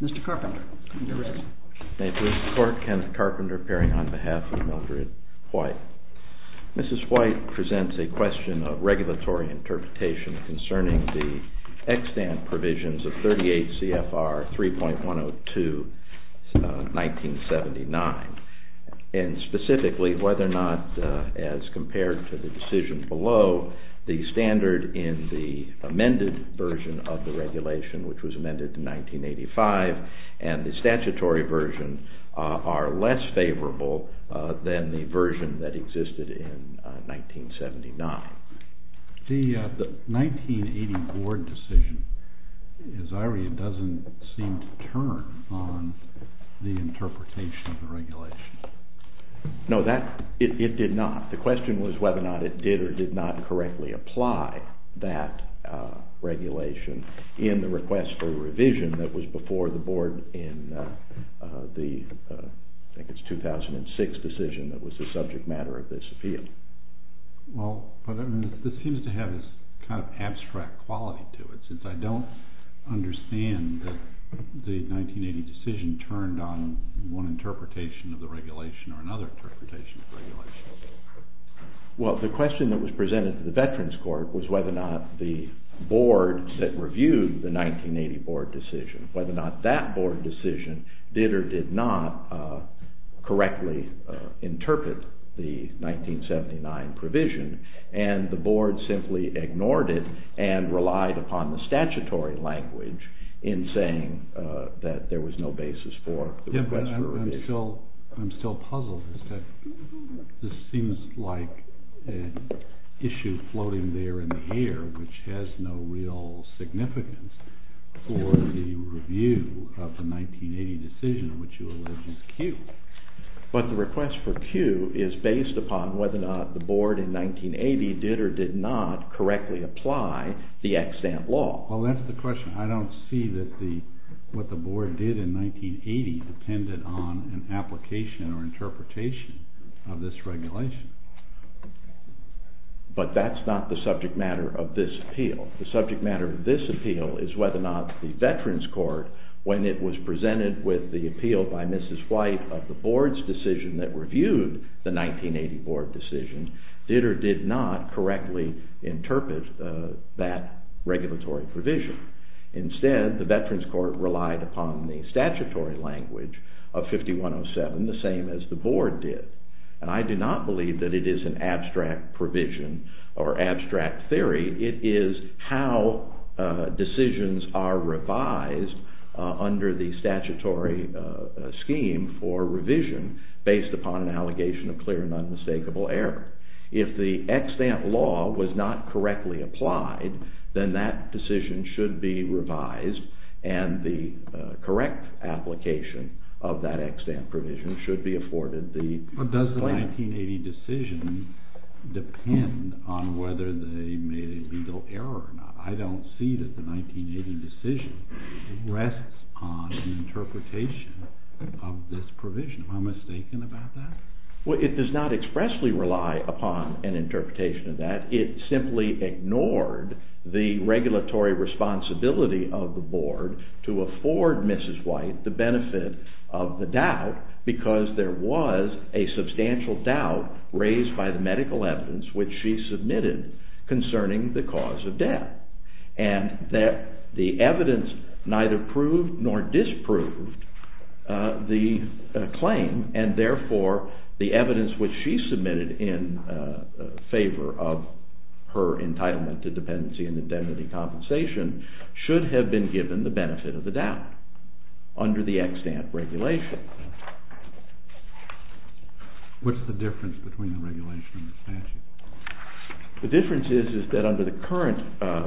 Mr. Carpenter, on behalf of Mildred White. Mrs. White presents a question of regulatory interpretation concerning the extant provisions of 38 C.F.R. 3.102, 1979, and specifically whether or not, as compared to the decision below, the standard in the amended version of the regulation, which was amended in 1985, and the statutory version are less favorable than the version that existed in 1979. The 1980 board decision, as I read, doesn't seem to turn on the interpretation of the regulation. No, that, it did not. The question was whether or not it did or did not correctly apply that regulation in the request for revision that was before the board in the, I think it's 2006 decision that was the subject matter of this appeal. Well, but this seems to have this kind of abstract quality to it, since I don't understand that the 1980 decision turned on one interpretation of the regulation or another interpretation of the regulation. Well, the question that was presented to the Veterans Court was whether or not the board that reviewed the 1980 board decision, whether or not that board decision did or did not correctly interpret the 1979 provision, and the board simply ignored it and relied upon the statutory language in saying that there was no basis for the request for revision. Yeah, but I'm still puzzled. This seems like an issue floating there in the air, which has no real significance for the review of the 1980 decision, which you allege is Q. But the request for Q is based upon whether or not the board in 1980 did or did not correctly apply the EXAMPT law. Well, that's the question. I don't see that the, what the board did in 1980 depended on an application or interpretation of this regulation. But that's not the subject matter of this appeal. The subject matter of this appeal is whether or not the Veterans Court, when it was presented with the appeal by Mrs. White of the board's decision that reviewed the 1980 board decision, did or did not correctly interpret that regulatory provision. Instead, the Veterans Court relied upon the statutory language of 5107, the same as the board did. And I do not believe that it is an abstract provision or abstract theory. It is how decisions are revised under the statutory scheme for revision based upon an allegation of clear and unmistakable error. If the EXAMPT law was not correctly applied, then that decision should be revised and the correct application of that EXAMPT provision should be afforded the blame. I don't see that the 1980 decision depend on whether they made a legal error or not. I don't see that the 1980 decision rests on an interpretation of this provision. Am I mistaken about that? Well, it does not expressly rely upon an interpretation of that. It simply ignored the regulatory responsibility of the board to afford Mrs. White the benefit of the doubt because there was a substantial doubt raised by the medical evidence which she submitted concerning the cause of death. And that the evidence neither proved nor disproved the claim and therefore the evidence which she submitted in favor of her entitlement to dependency and indemnity compensation should have been given the benefit of the doubt under the EXAMPT regulation. What's the difference between the regulation and the statute? The difference is that under the current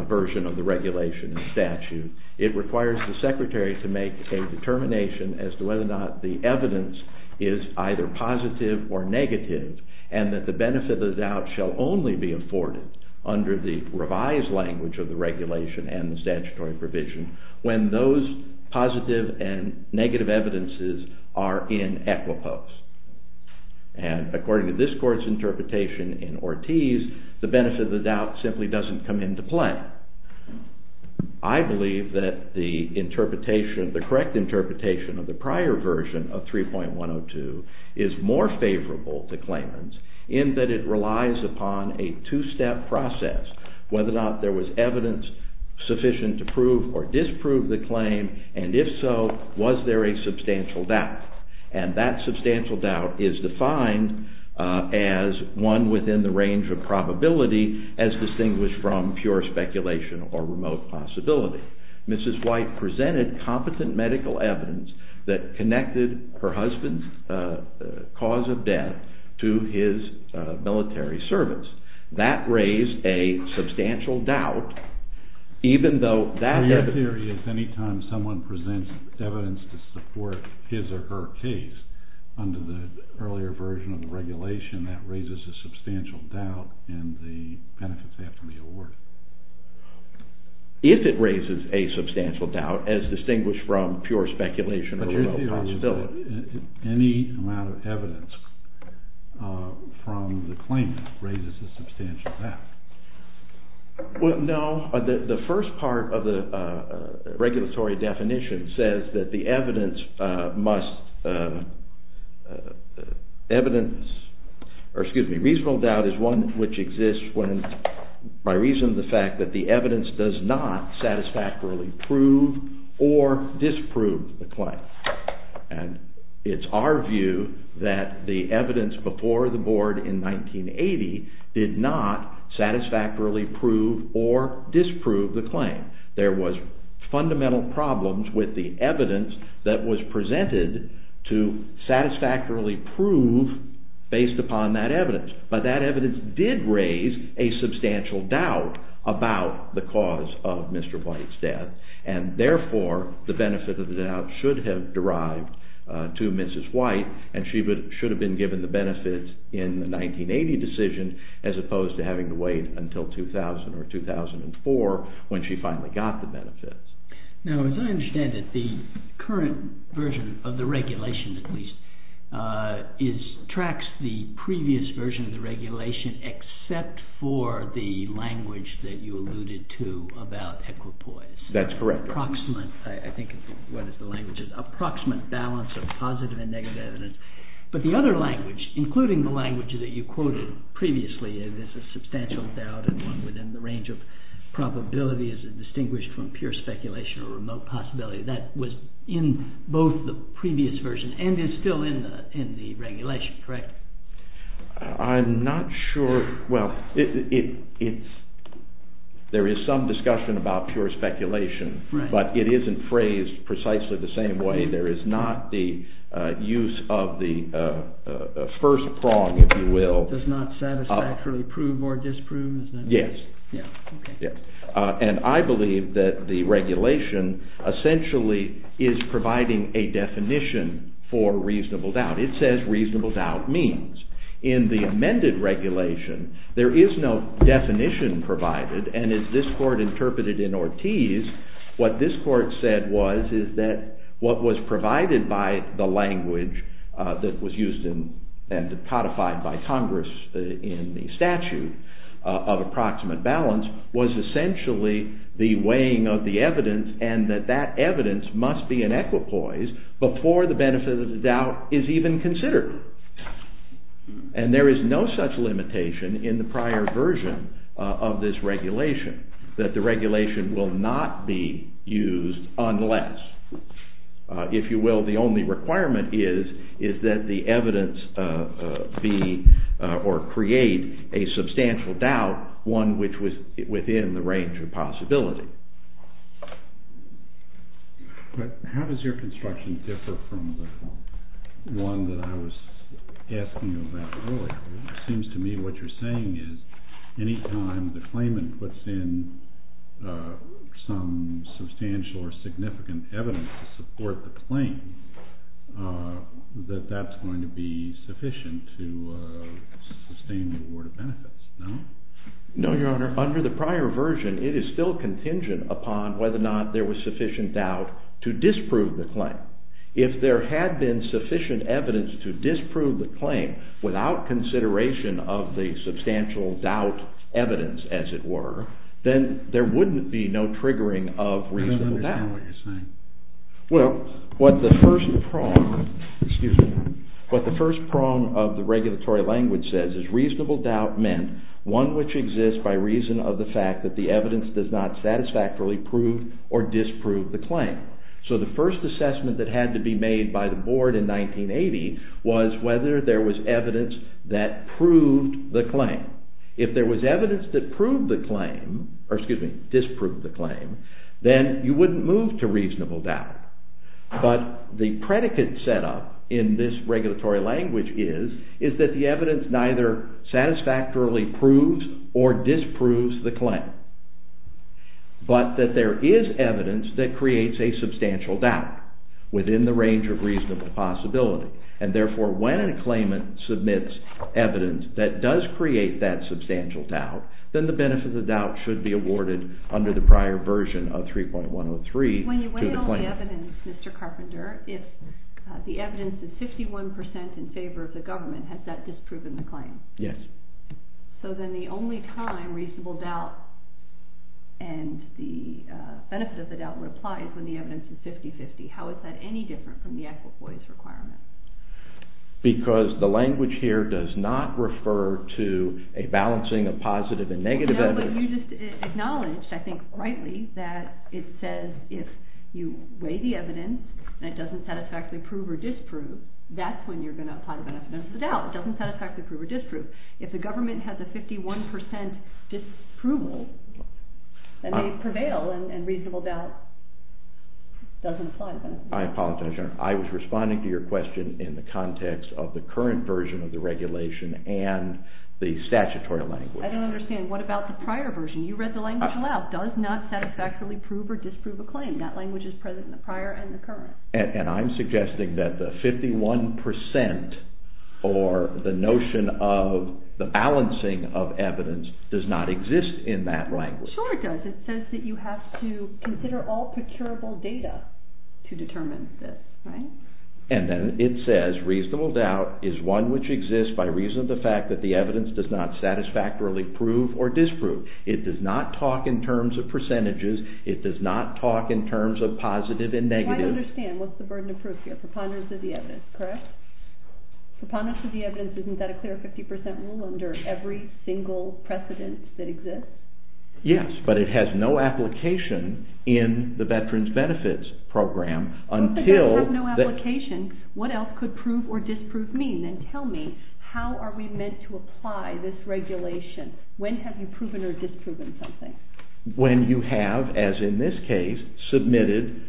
version of the regulation and statute, it requires the secretary to make a determination as to whether or not the evidence is either positive or negative and that the benefit of the doubt shall only be afforded under the revised language of the regulation and the statutory provision when those positive and negative evidences are in equipoise. And according to this court's interpretation in Ortiz, the benefit of the doubt simply doesn't come into play. I believe that the correct interpretation of the prior version of 3.102 is more favorable to Clarence in that it relies upon a two-step process, whether or not there was evidence sufficient to prove or disprove the claim and if so, was there a substantial doubt? And that substantial doubt is defined as one within the range of probability as distinguished from pure speculation or remote possibility. Mrs. White presented competent medical evidence that connected her husband's cause of death to his military service. That raised a substantial doubt even though that evidence... So your theory is anytime someone presents evidence to support his or her case under the earlier version of the regulation, that raises a substantial doubt in the benefits that can be awarded? If it raises a substantial doubt as distinguished from pure speculation or remote possibility. Any amount of evidence from the claim raises a substantial doubt. Well, no. The first part of the regulatory definition says that the evidence must... Evidence... Excuse me. Reasonable doubt is one which exists when by reason of the fact that the evidence does not satisfactorily prove or disprove the claim. And it's our view that the evidence before the board in 1980 did not satisfactorily prove or disprove the claim. There was fundamental problems with the evidence that was presented to satisfactorily prove based upon that evidence. But that evidence did raise a substantial doubt about the cause of Mr. White's death. And therefore, the benefit of the doubt should have derived to Mrs. White and she should have been given the benefits in the 1980 decision as opposed to having to wait until 2000 or 2004 when she finally got the benefits. Now, as I understand it, the current version of the regulation, at least, tracks the previous version of the regulation except for the language that you alluded to about equipoise. That's correct. Approximate. I think what is the language is approximate balance of positive and negative evidence. But the other language, including the language that you quoted previously, is a substantial doubt and one within the range of probability is distinguished from pure speculation or remote possibility. That was in both the previous version and is still in the regulation, correct? I'm not sure. Well, there is some discussion about pure speculation, but it isn't phrased precisely the same way. There is not the use of the first prong, if you will. Does not satisfactorily prove or disprove? Yes. Yeah. Okay. And I believe that the regulation essentially is providing a definition for reasonable doubt. It says reasonable doubt means. In the amended regulation, there is no definition provided, and as this court interpreted in Ortiz, what this court said was is that what was provided by the language that was used and codified by Congress in the balance was essentially the weighing of the evidence and that that evidence must be an equipoise before the benefit of the doubt is even considered. And there is no such limitation in the prior version of this regulation that the regulation will not be used unless, if you will, the only requirement is that the evidence be or create a substantial doubt, one which was within the range of possibility. But how does your construction differ from the one that I was asking you about earlier? It seems to me what you're saying is any time the claimant puts in some substantial or significant evidence to support the claim, that that's going to be sufficient to sustain the award of benefits. No? No, Your Honor. Under the prior version, it is still contingent upon whether or not there was sufficient doubt to disprove the claim. If there had been sufficient evidence to disprove the claim without consideration of the substantial doubt evidence, as it were, then there wouldn't be no triggering of reasonable doubt. I don't understand what you're saying. Well, what the first prong of the regulatory language says is reasonable doubt meant one which exists by reason of the fact that the evidence does not satisfactorily prove or disprove the claim. So the first assessment that had to be made by the Board in 1980 was whether there was evidence that proved the claim. If there was evidence that disproved the claim, then you wouldn't move to reasonable doubt. But the predicate set up in this regulatory language is that the evidence neither satisfactorily proves or disproves the claim, but that there is evidence that creates a substantial doubt within the range of reasonable possibility. And therefore, when a claimant submits evidence that does create that substantial doubt, then the benefit of the doubt should be agreed to the claim. When you weigh all the evidence, Mr. Carpenter, if the evidence is 51% in favor of the government, has that disproven the claim? Yes. So then the only time reasonable doubt and the benefit of the doubt would apply is when the evidence is 50-50. How is that any different from the Equifoise requirement? Because the language here does not refer to a balancing of positive and negative evidence. You just acknowledged, I think rightly, that it says if you weigh the evidence and it doesn't satisfactorily prove or disprove, that's when you're going to apply the benefit of the doubt. It doesn't satisfactorily prove or disprove. If the government has a 51% disproval, then they prevail and reasonable doubt doesn't apply. I apologize, Your Honor. I was responding to your question in the context of the current version of the regulation and the statutory language. I don't understand. What about the prior version? You read the language aloud. Does not satisfactorily prove or disprove a claim. That language is present in the prior and the current. And I'm suggesting that the 51% or the notion of the balancing of evidence does not exist in that language. Sure it does. It says that you have to consider all procurable data to determine this, right? And then it says reasonable doubt is one which exists by reason of the fact that the evidence does not satisfactorily prove or disprove. It does not talk in terms of percentages. It does not talk in terms of positive and negative. I understand. What's the burden of proof here? Preponderance of the evidence, correct? Preponderance of the evidence. Isn't that a clear 50% rule under every single precedent that exists? Yes, but it has no application in the Veterans Benefits Program until... What does that have no application? What else could prove or disprove mean? And tell me, how are we meant to apply this regulation? When have you proven or disproven something? When you have, as in this case, submitted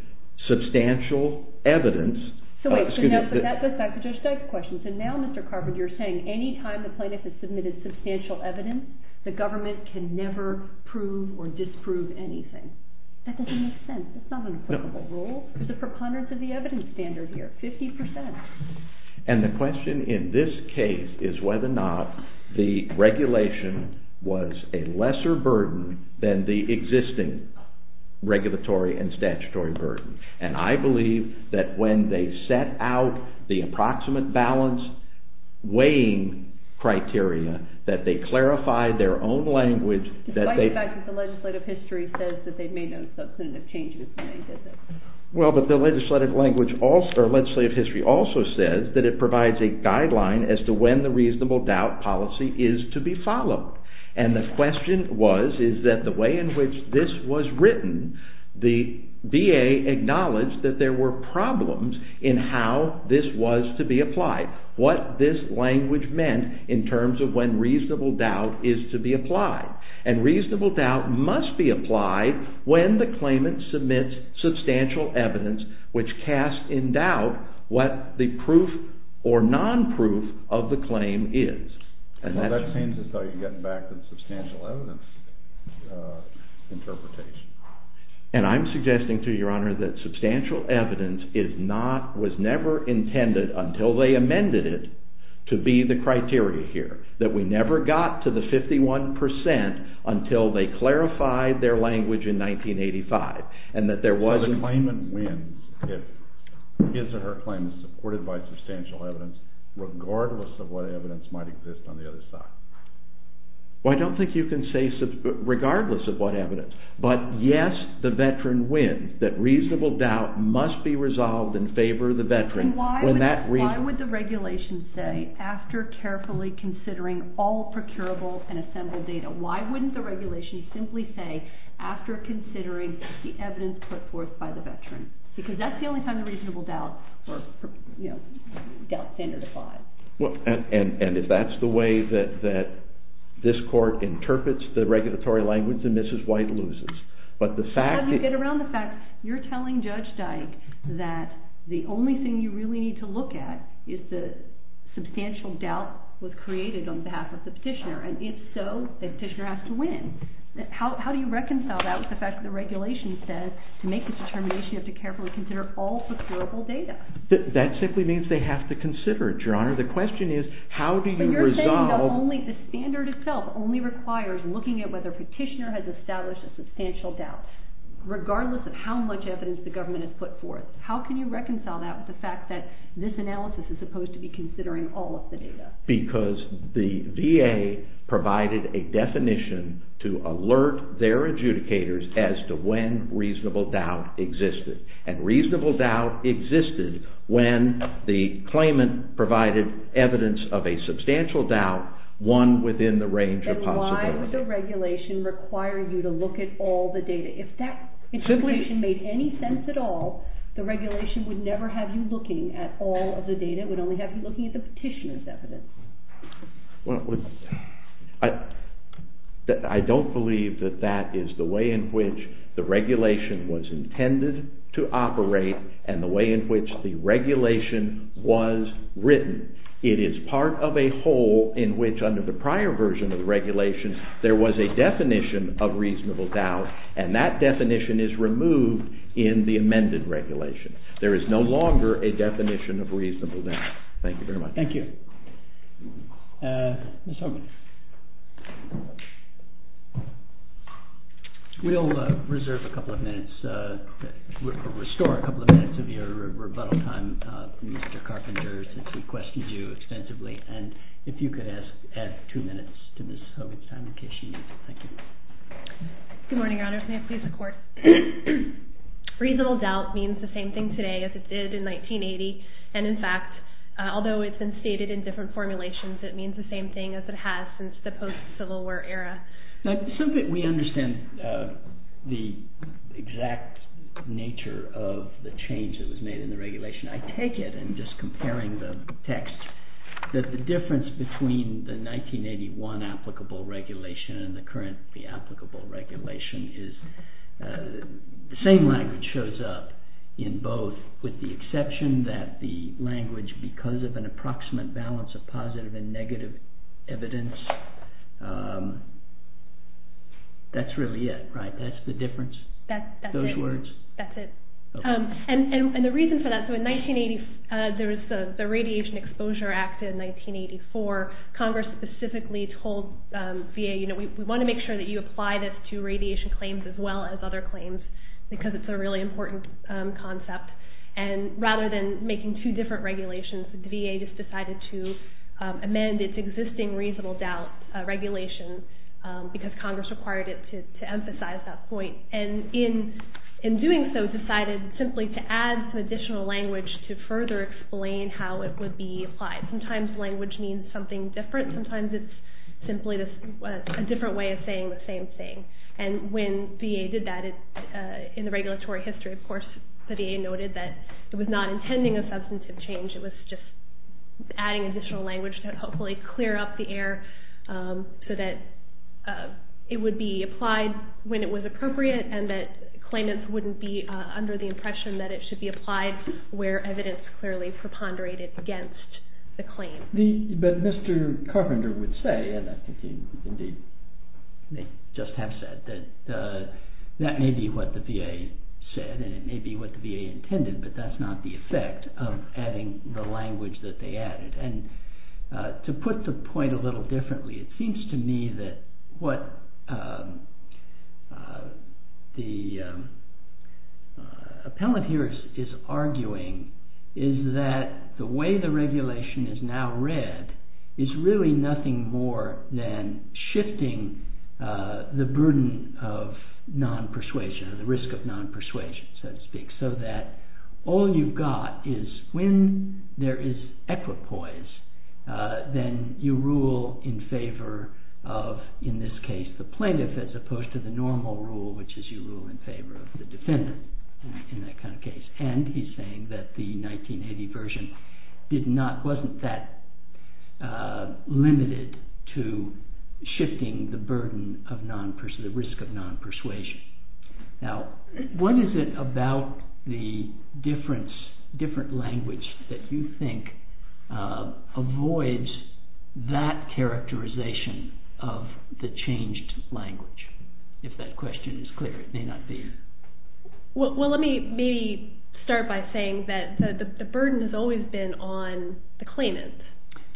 substantial evidence... So wait, that's back to Judge Steig's question. So now, Mr. Carpenter, you're saying any time the plaintiff has submitted substantial evidence, the government can never prove or disprove anything. That doesn't make sense. That's not an applicable rule. It's a preponderance of the evidence standard here, 50%. And the question in this case is whether or not the regulation was a lesser burden than the existing regulatory and statutory burden. And I believe that when they set out the approximate balance weighing criteria, that they clarify their own language... Despite the fact that the legislative history says that they've made no substantive changes when they did this. Well, but the legislative history also says that it provides a guideline as to when the reasonable doubt policy is to be followed. And the question was, is that the way in which this was written, the VA acknowledged that there were problems in how this was to be applied. What this language meant in terms of when reasonable doubt is to be applied. And reasonable doubt must be applied when the claimant submits substantial evidence which casts in doubt what the proof or non-proof of the claim is. Well, that seems as though you're getting back to the substantial evidence interpretation. And I'm suggesting to your honor that substantial evidence is not, was never intended until they amended it to be the criteria here. That we never got to the 51% until they clarified their language in 1985. And that there wasn't... So the claimant wins if his or her claim is supported by substantial evidence regardless of what evidence might exist on the other side. Well, I don't think you can say regardless of what evidence. But yes, the veteran wins. That reasonable doubt must be resolved in favor of the veteran when that reason... And why would the regulation say, after carefully considering all procurable and assembled data, why wouldn't the regulation simply say, after considering the evidence put forth by the veteran? Because that's the only time the reasonable doubt or doubt standard applies. And if that's the way that this court interprets the regulatory language, then Mrs. White loses. But the fact... You get around the fact, you're telling Judge Dike that the only thing you really need to look at is the substantial doubt was created on behalf of the petitioner. And if so, the petitioner has to win. How do you reconcile that with the fact that the regulation says to make this determination you have to carefully consider all procurable data? That simply means they have to consider it, Your Honor. The question is, how do you resolve... But you're saying that the standard itself only requires looking at whether the petitioner has established a substantial doubt, regardless of how much evidence the government has put forth. How can you reconcile that with the fact that this analysis is supposed to be considering all of the data? Because the VA provided a definition to alert their adjudicators as to when reasonable doubt existed. And reasonable doubt existed when the claimant provided evidence of a substantial doubt, one within the range of possibility. And why would the regulation require you to look at all the data? If that interpretation made any sense at all, the regulation would never have you looking at all of the data. It would only have you looking at the petitioner's evidence. I don't believe that that is the way in which the regulation was intended to operate and the way in which the regulation was written. It is part of a whole in which under the prior version of the regulation there was a definition of reasonable doubt, and that definition is removed in the amended regulation. There is no longer a definition of reasonable doubt. Thank you very much. Thank you. Ms. Hogan. We'll restore a couple of minutes of your rebuttal time from Mr. Carpenter since he questioned you extensively and if you could add two minutes to Ms. Hogan's time in case she needs it. Thank you. Good morning, Your Honor. Your Honor, may I please record? Reasonable doubt means the same thing today as it did in 1980 and in fact, although it's been stated in different formulations, it means the same thing as it has since the post-Civil War era. We understand the exact nature of the change that was made in the regulation. the text, that the difference between the 1981 applicable regulation and the current applicable regulation is the same language shows up in both with the exception that the language because of an approximate balance of positive and negative evidence that's really it, right? That's the difference? Those words? That's it. And the reason for that, so in 1980 there was the Radiation Exposure Act in 1984 Congress specifically told VA, you know, we want to make sure that you apply this to radiation claims as well as other claims because it's a really important concept and rather than making two different regulations, the VA just decided to amend its existing reasonable doubt regulation because Congress required it to emphasize that point and in doing so, decided simply to add some additional language to further explain how it would be applied. Sometimes language means something different, sometimes it's simply a different way of saying the same thing and when VA did that in the regulatory history of course the VA noted that it was not intending a substantive change it was just adding additional language to hopefully clear up the air so that it would be applied when it was appropriate and that claimants wouldn't be under the impression that it should be applied where evidence clearly preponderated against the claim. But Mr. Carpenter would say and I think he indeed just have said that that may be what the VA said and it may be what the VA intended but that's not the effect of adding the language that they added and to put the point a little differently, it seems to me that what the appellant here is arguing is that the way the regulation is now read is really nothing more than shifting the burden of non-persuasion or the risk of non-persuasion so to speak so that all you've got is when there is equipoise then you rule in favor of in this case the plaintiff as opposed to the normal rule which is you rule in favor of the defendant in that kind of case and he's saying that the 1980 version wasn't that limited to shifting the burden of non-persuasion the risk of non-persuasion. Now what is it about the different language that you think avoids that characterization of the changed language? If that question is Well let me maybe start by saying that the burden has always been on the claimant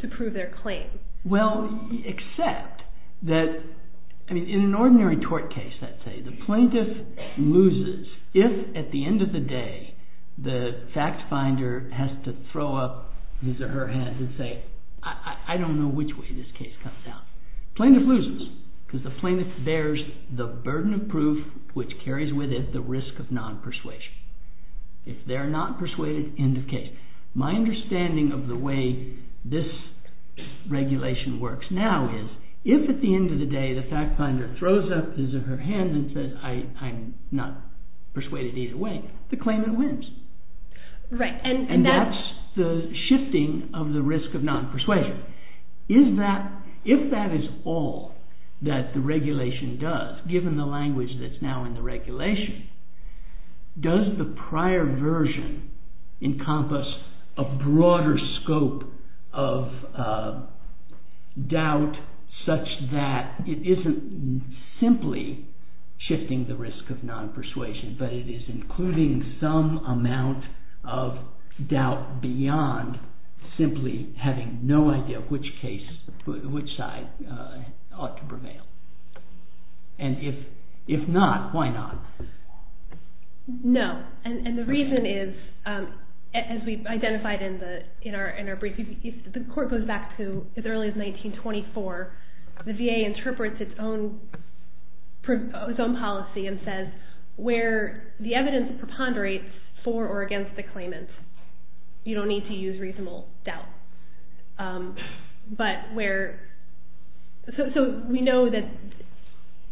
to prove their claim. Well except that in an ordinary tort case I'd say the plaintiff loses if at the end of the day the fact finder has to throw up his or her head and say I don't know which way this case comes out. Plaintiff loses because the plaintiff bears the burden of proof which carries with it the risk of non-persuasion. If they're not persuaded end of case. My understanding of the way this regulation works now is if at the end of the day the fact finder throws up his or her hand and says I'm not persuaded either way, the claimant wins. And that's the shifting of the risk of non-persuasion. If that is all that the regulation does given the language that's now in the regulation, does the prior version encompass a broader scope of doubt such that it isn't simply shifting the risk of non-persuasion but it is including some amount of doubt beyond simply having no idea which case which side ought to prevail. And if not, why not? No. And the reason is as we've identified in our brief, if the court goes back to as early as 1924 the VA interprets its own policy and says where the evidence preponderates for or against the claimant you don't need to use reasonable doubt. But where so we know that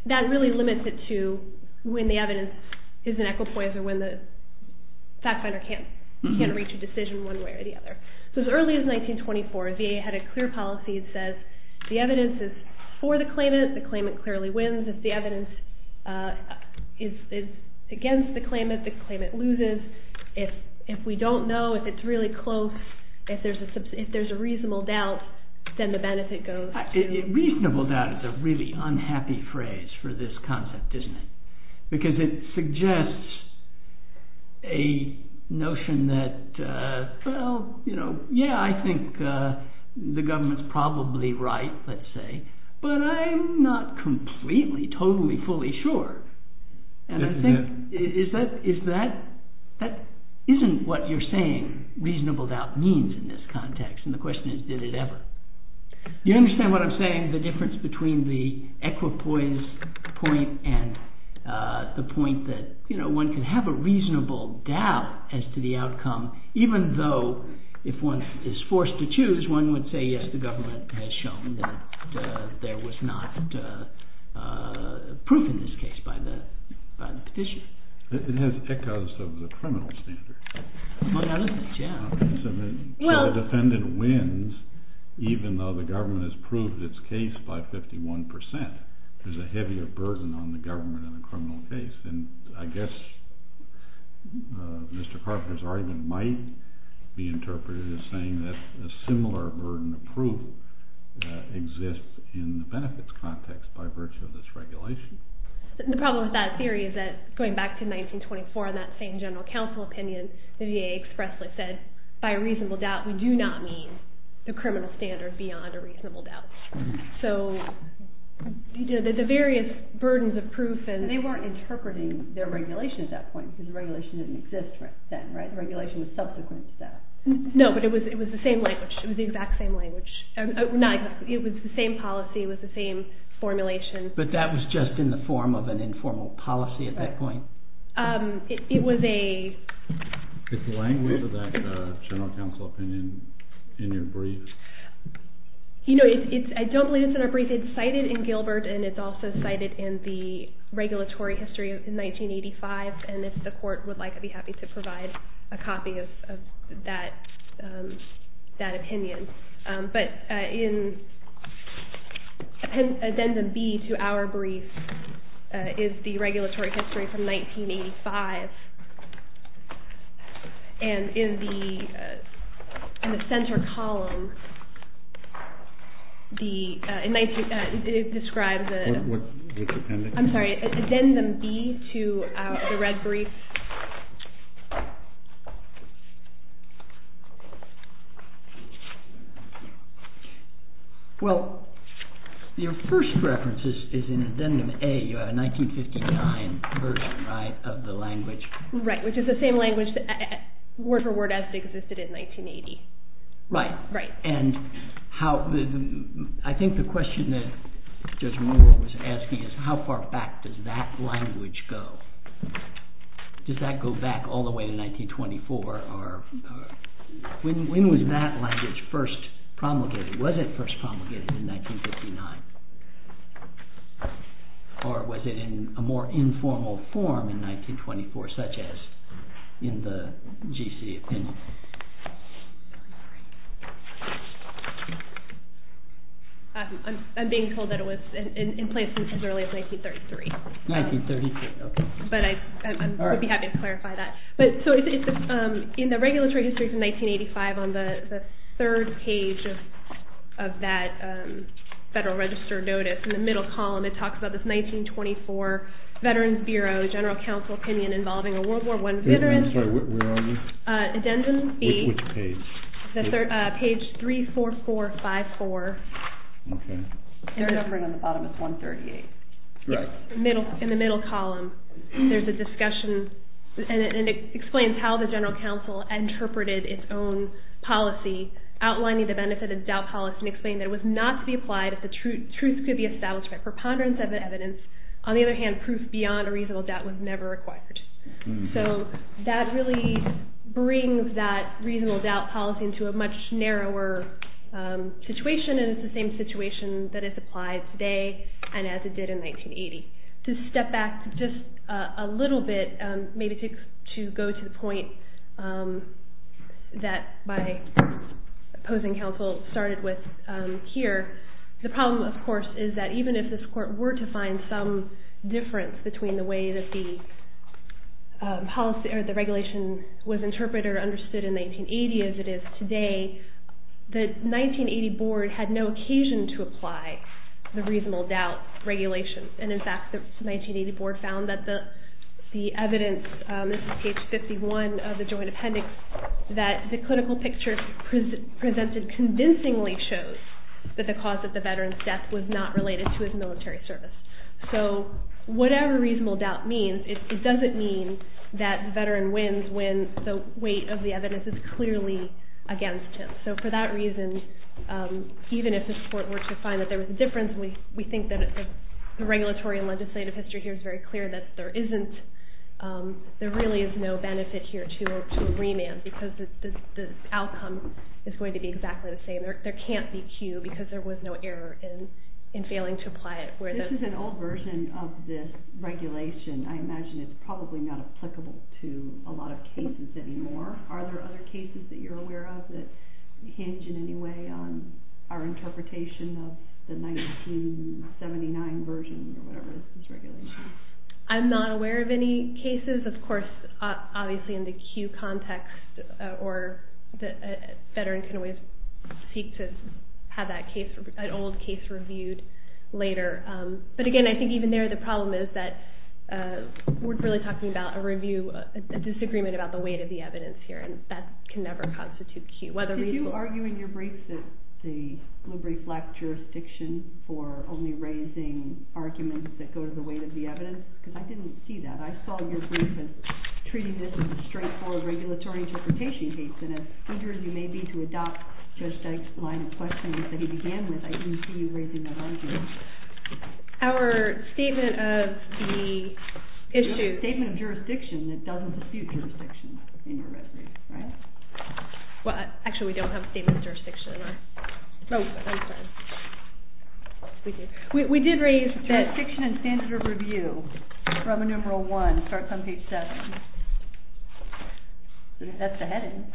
that really limits it to when the evidence is an equipoise or when the fact finder can't reach a decision one way or the other. So as early as 1924 VA had a clear policy that says the evidence is for the claimant the claimant clearly wins. If the evidence is against the claimant, the claimant loses. If we don't know if it's really close if there's a reasonable doubt then the benefit goes. Reasonable doubt is a really unhappy phrase for this concept, isn't it? Because it suggests a notion that yeah, I think the government's probably right let's say, but I'm not completely, totally, fully sure. Is that isn't what you're saying reasonable doubt means in this context. And the question is, did it ever? Do you understand what I'm saying? The difference between the equipoise point and the point that one can have a reasonable doubt as to the outcome, even though if one is forced to choose, one would say yes, the government has shown that there was not proof in this case by the equipoise of the criminal standard. So the defendant wins even though the government has proved its case by 51%. There's a heavier burden on the government than the criminal case. And I guess Mr. Carpenter's argument might be interpreted as saying that a similar burden of proof exists in the benefits context by virtue of this regulation. The problem with that theory is that going back to 1924 and that same general counsel opinion, the VA expressly said, by a reasonable doubt, we do not mean the criminal standard beyond a reasonable doubt. So the various burdens of proof and they weren't interpreting their regulation at that point because the regulation didn't exist then, right? The regulation was subsequent to that. No, but it was the same language. It was the exact same language. It was the same policy. It was the same formulation. But that was just in the form of an informal policy at that point. It was a... It's the language of that general counsel opinion in your brief. You know, I don't believe it's in our brief. It's cited in Gilbert and it's also cited in the regulatory history of 1985 and if the court would like, I'd be happy to provide a copy of that opinion. But in addendum B to our brief is the regulatory history from 1985 and in the center column the it describes the I'm sorry, addendum B to the red brief Well your first reference is in addendum A you have a 1959 version, right, of the language Right, which is the same language word for word as it existed in 1980 Right and how I think the question that Judge Moore was asking is how far back does that language go? Well, I think does that go back all the way to 1924 or when was that language first promulgated? Was it first promulgated in 1959? Or was it in a more informal form in 1924 such as in the GC opinion? I'm being told that it was in place as early as 1933. But I would be happy to clarify that In the regulatory history from 1985 on the third page of that Federal Register notice, in the middle column it talks about this 1924 Veterans Bureau General Council opinion involving a World War I veteran Where are you? Which page? Page 34454 Okay In the middle column there's a discussion and it explains how the GC interpreted its own policy, outlining the benefit of doubt policy and explaining that it was not to be applied if the truth could be established by preponderance of evidence on the other hand proof beyond a reasonable doubt was never required. So that really brings that reasonable doubt policy into a much narrower situation and it's the same situation that it did in 1980. To step back just a little bit maybe to go to the point that by opposing counsel started with here, the problem of course is that even if this court were to find some difference between the way that the policy or the regulation was interpreted or understood in 1980 as it is today the 1980 board had no occasion to apply the reasonable doubt regulation and in fact the 1980 board found that the evidence this is page 51 of the joint appendix that the clinical picture presented convincingly shows that the cause of the veteran's death was not related to his military service. So whatever reasonable doubt means it doesn't mean that the veteran wins when the weight of the evidence is clearly against him. So for that reason even if the court were to find that there was a difference we think that the regulatory and legislative history here is very clear that there isn't there really is no benefit here to remand because the outcome is going to be exactly the same. There can't be a cue because there was no error in failing to apply it. This is an old version of this regulation I imagine it's probably not applicable to a lot of cases anymore are there other cases that you're aware of that hinge in any way on our interpretation of the 1979 version or whatever this regulation is? I'm not aware of any cases of course obviously in the cue context or the veteran can always seek to have that case an old case reviewed later but again I think even there the problem is that we're really talking about a review a disagreement about the weight of the evidence here and that can never constitute cue Did you argue in your brief that the blue brief lacked jurisdiction for only raising arguments that go to the weight of the evidence because I didn't see that I saw your brief treating this as a straightforward regulatory interpretation case and as eager as you may be to adopt Judge Dyke's line of questioning that he began with I didn't see you raising that argument Our statement of the statement of jurisdiction that doesn't dispute jurisdiction Well actually we don't have a statement of jurisdiction Oh I'm sorry We did raise Jurisdiction and standard of review from enumeral one starts on page seven That's the heading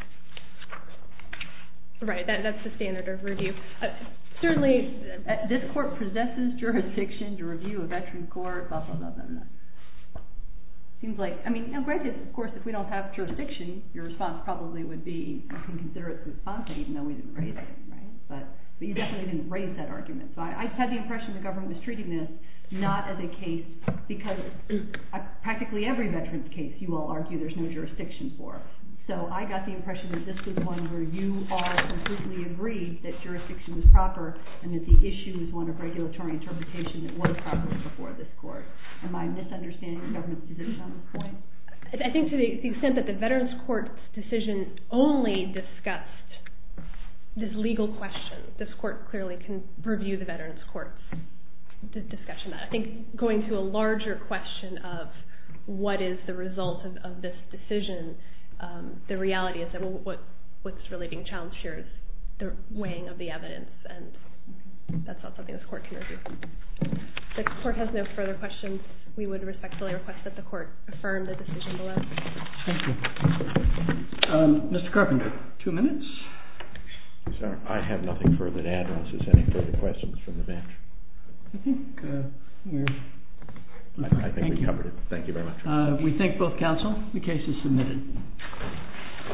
Right that's Certainly this court possesses jurisdiction to review a veteran's court blah blah blah blah blah Seems like of course if we don't have jurisdiction your response probably would be even though we didn't raise it but you definitely didn't raise that argument I had the impression the government was treating this not as a case because practically every veteran's case you all argue there's no jurisdiction for so I got the impression that this was one where you all completely agreed that jurisdiction was proper and that the issue was one of regulatory interpretation that was proper before this court Am I misunderstanding the government's position on this point I think to the extent that the veteran's court decision only discussed this legal question this court clearly can review the veteran's court discussion that I think going to a larger question of what is the result of this decision the reality is that what's really being challenged here is the weighing of the evidence and that's not something this court can review. If the court has no further questions we would respectfully request that the court affirm the decision Thank you Mr. Carpenter, two minutes I have nothing further to add unless there's any further questions from the bench I think we're I think we've covered it, thank you very much We thank both counsel, the case is submitted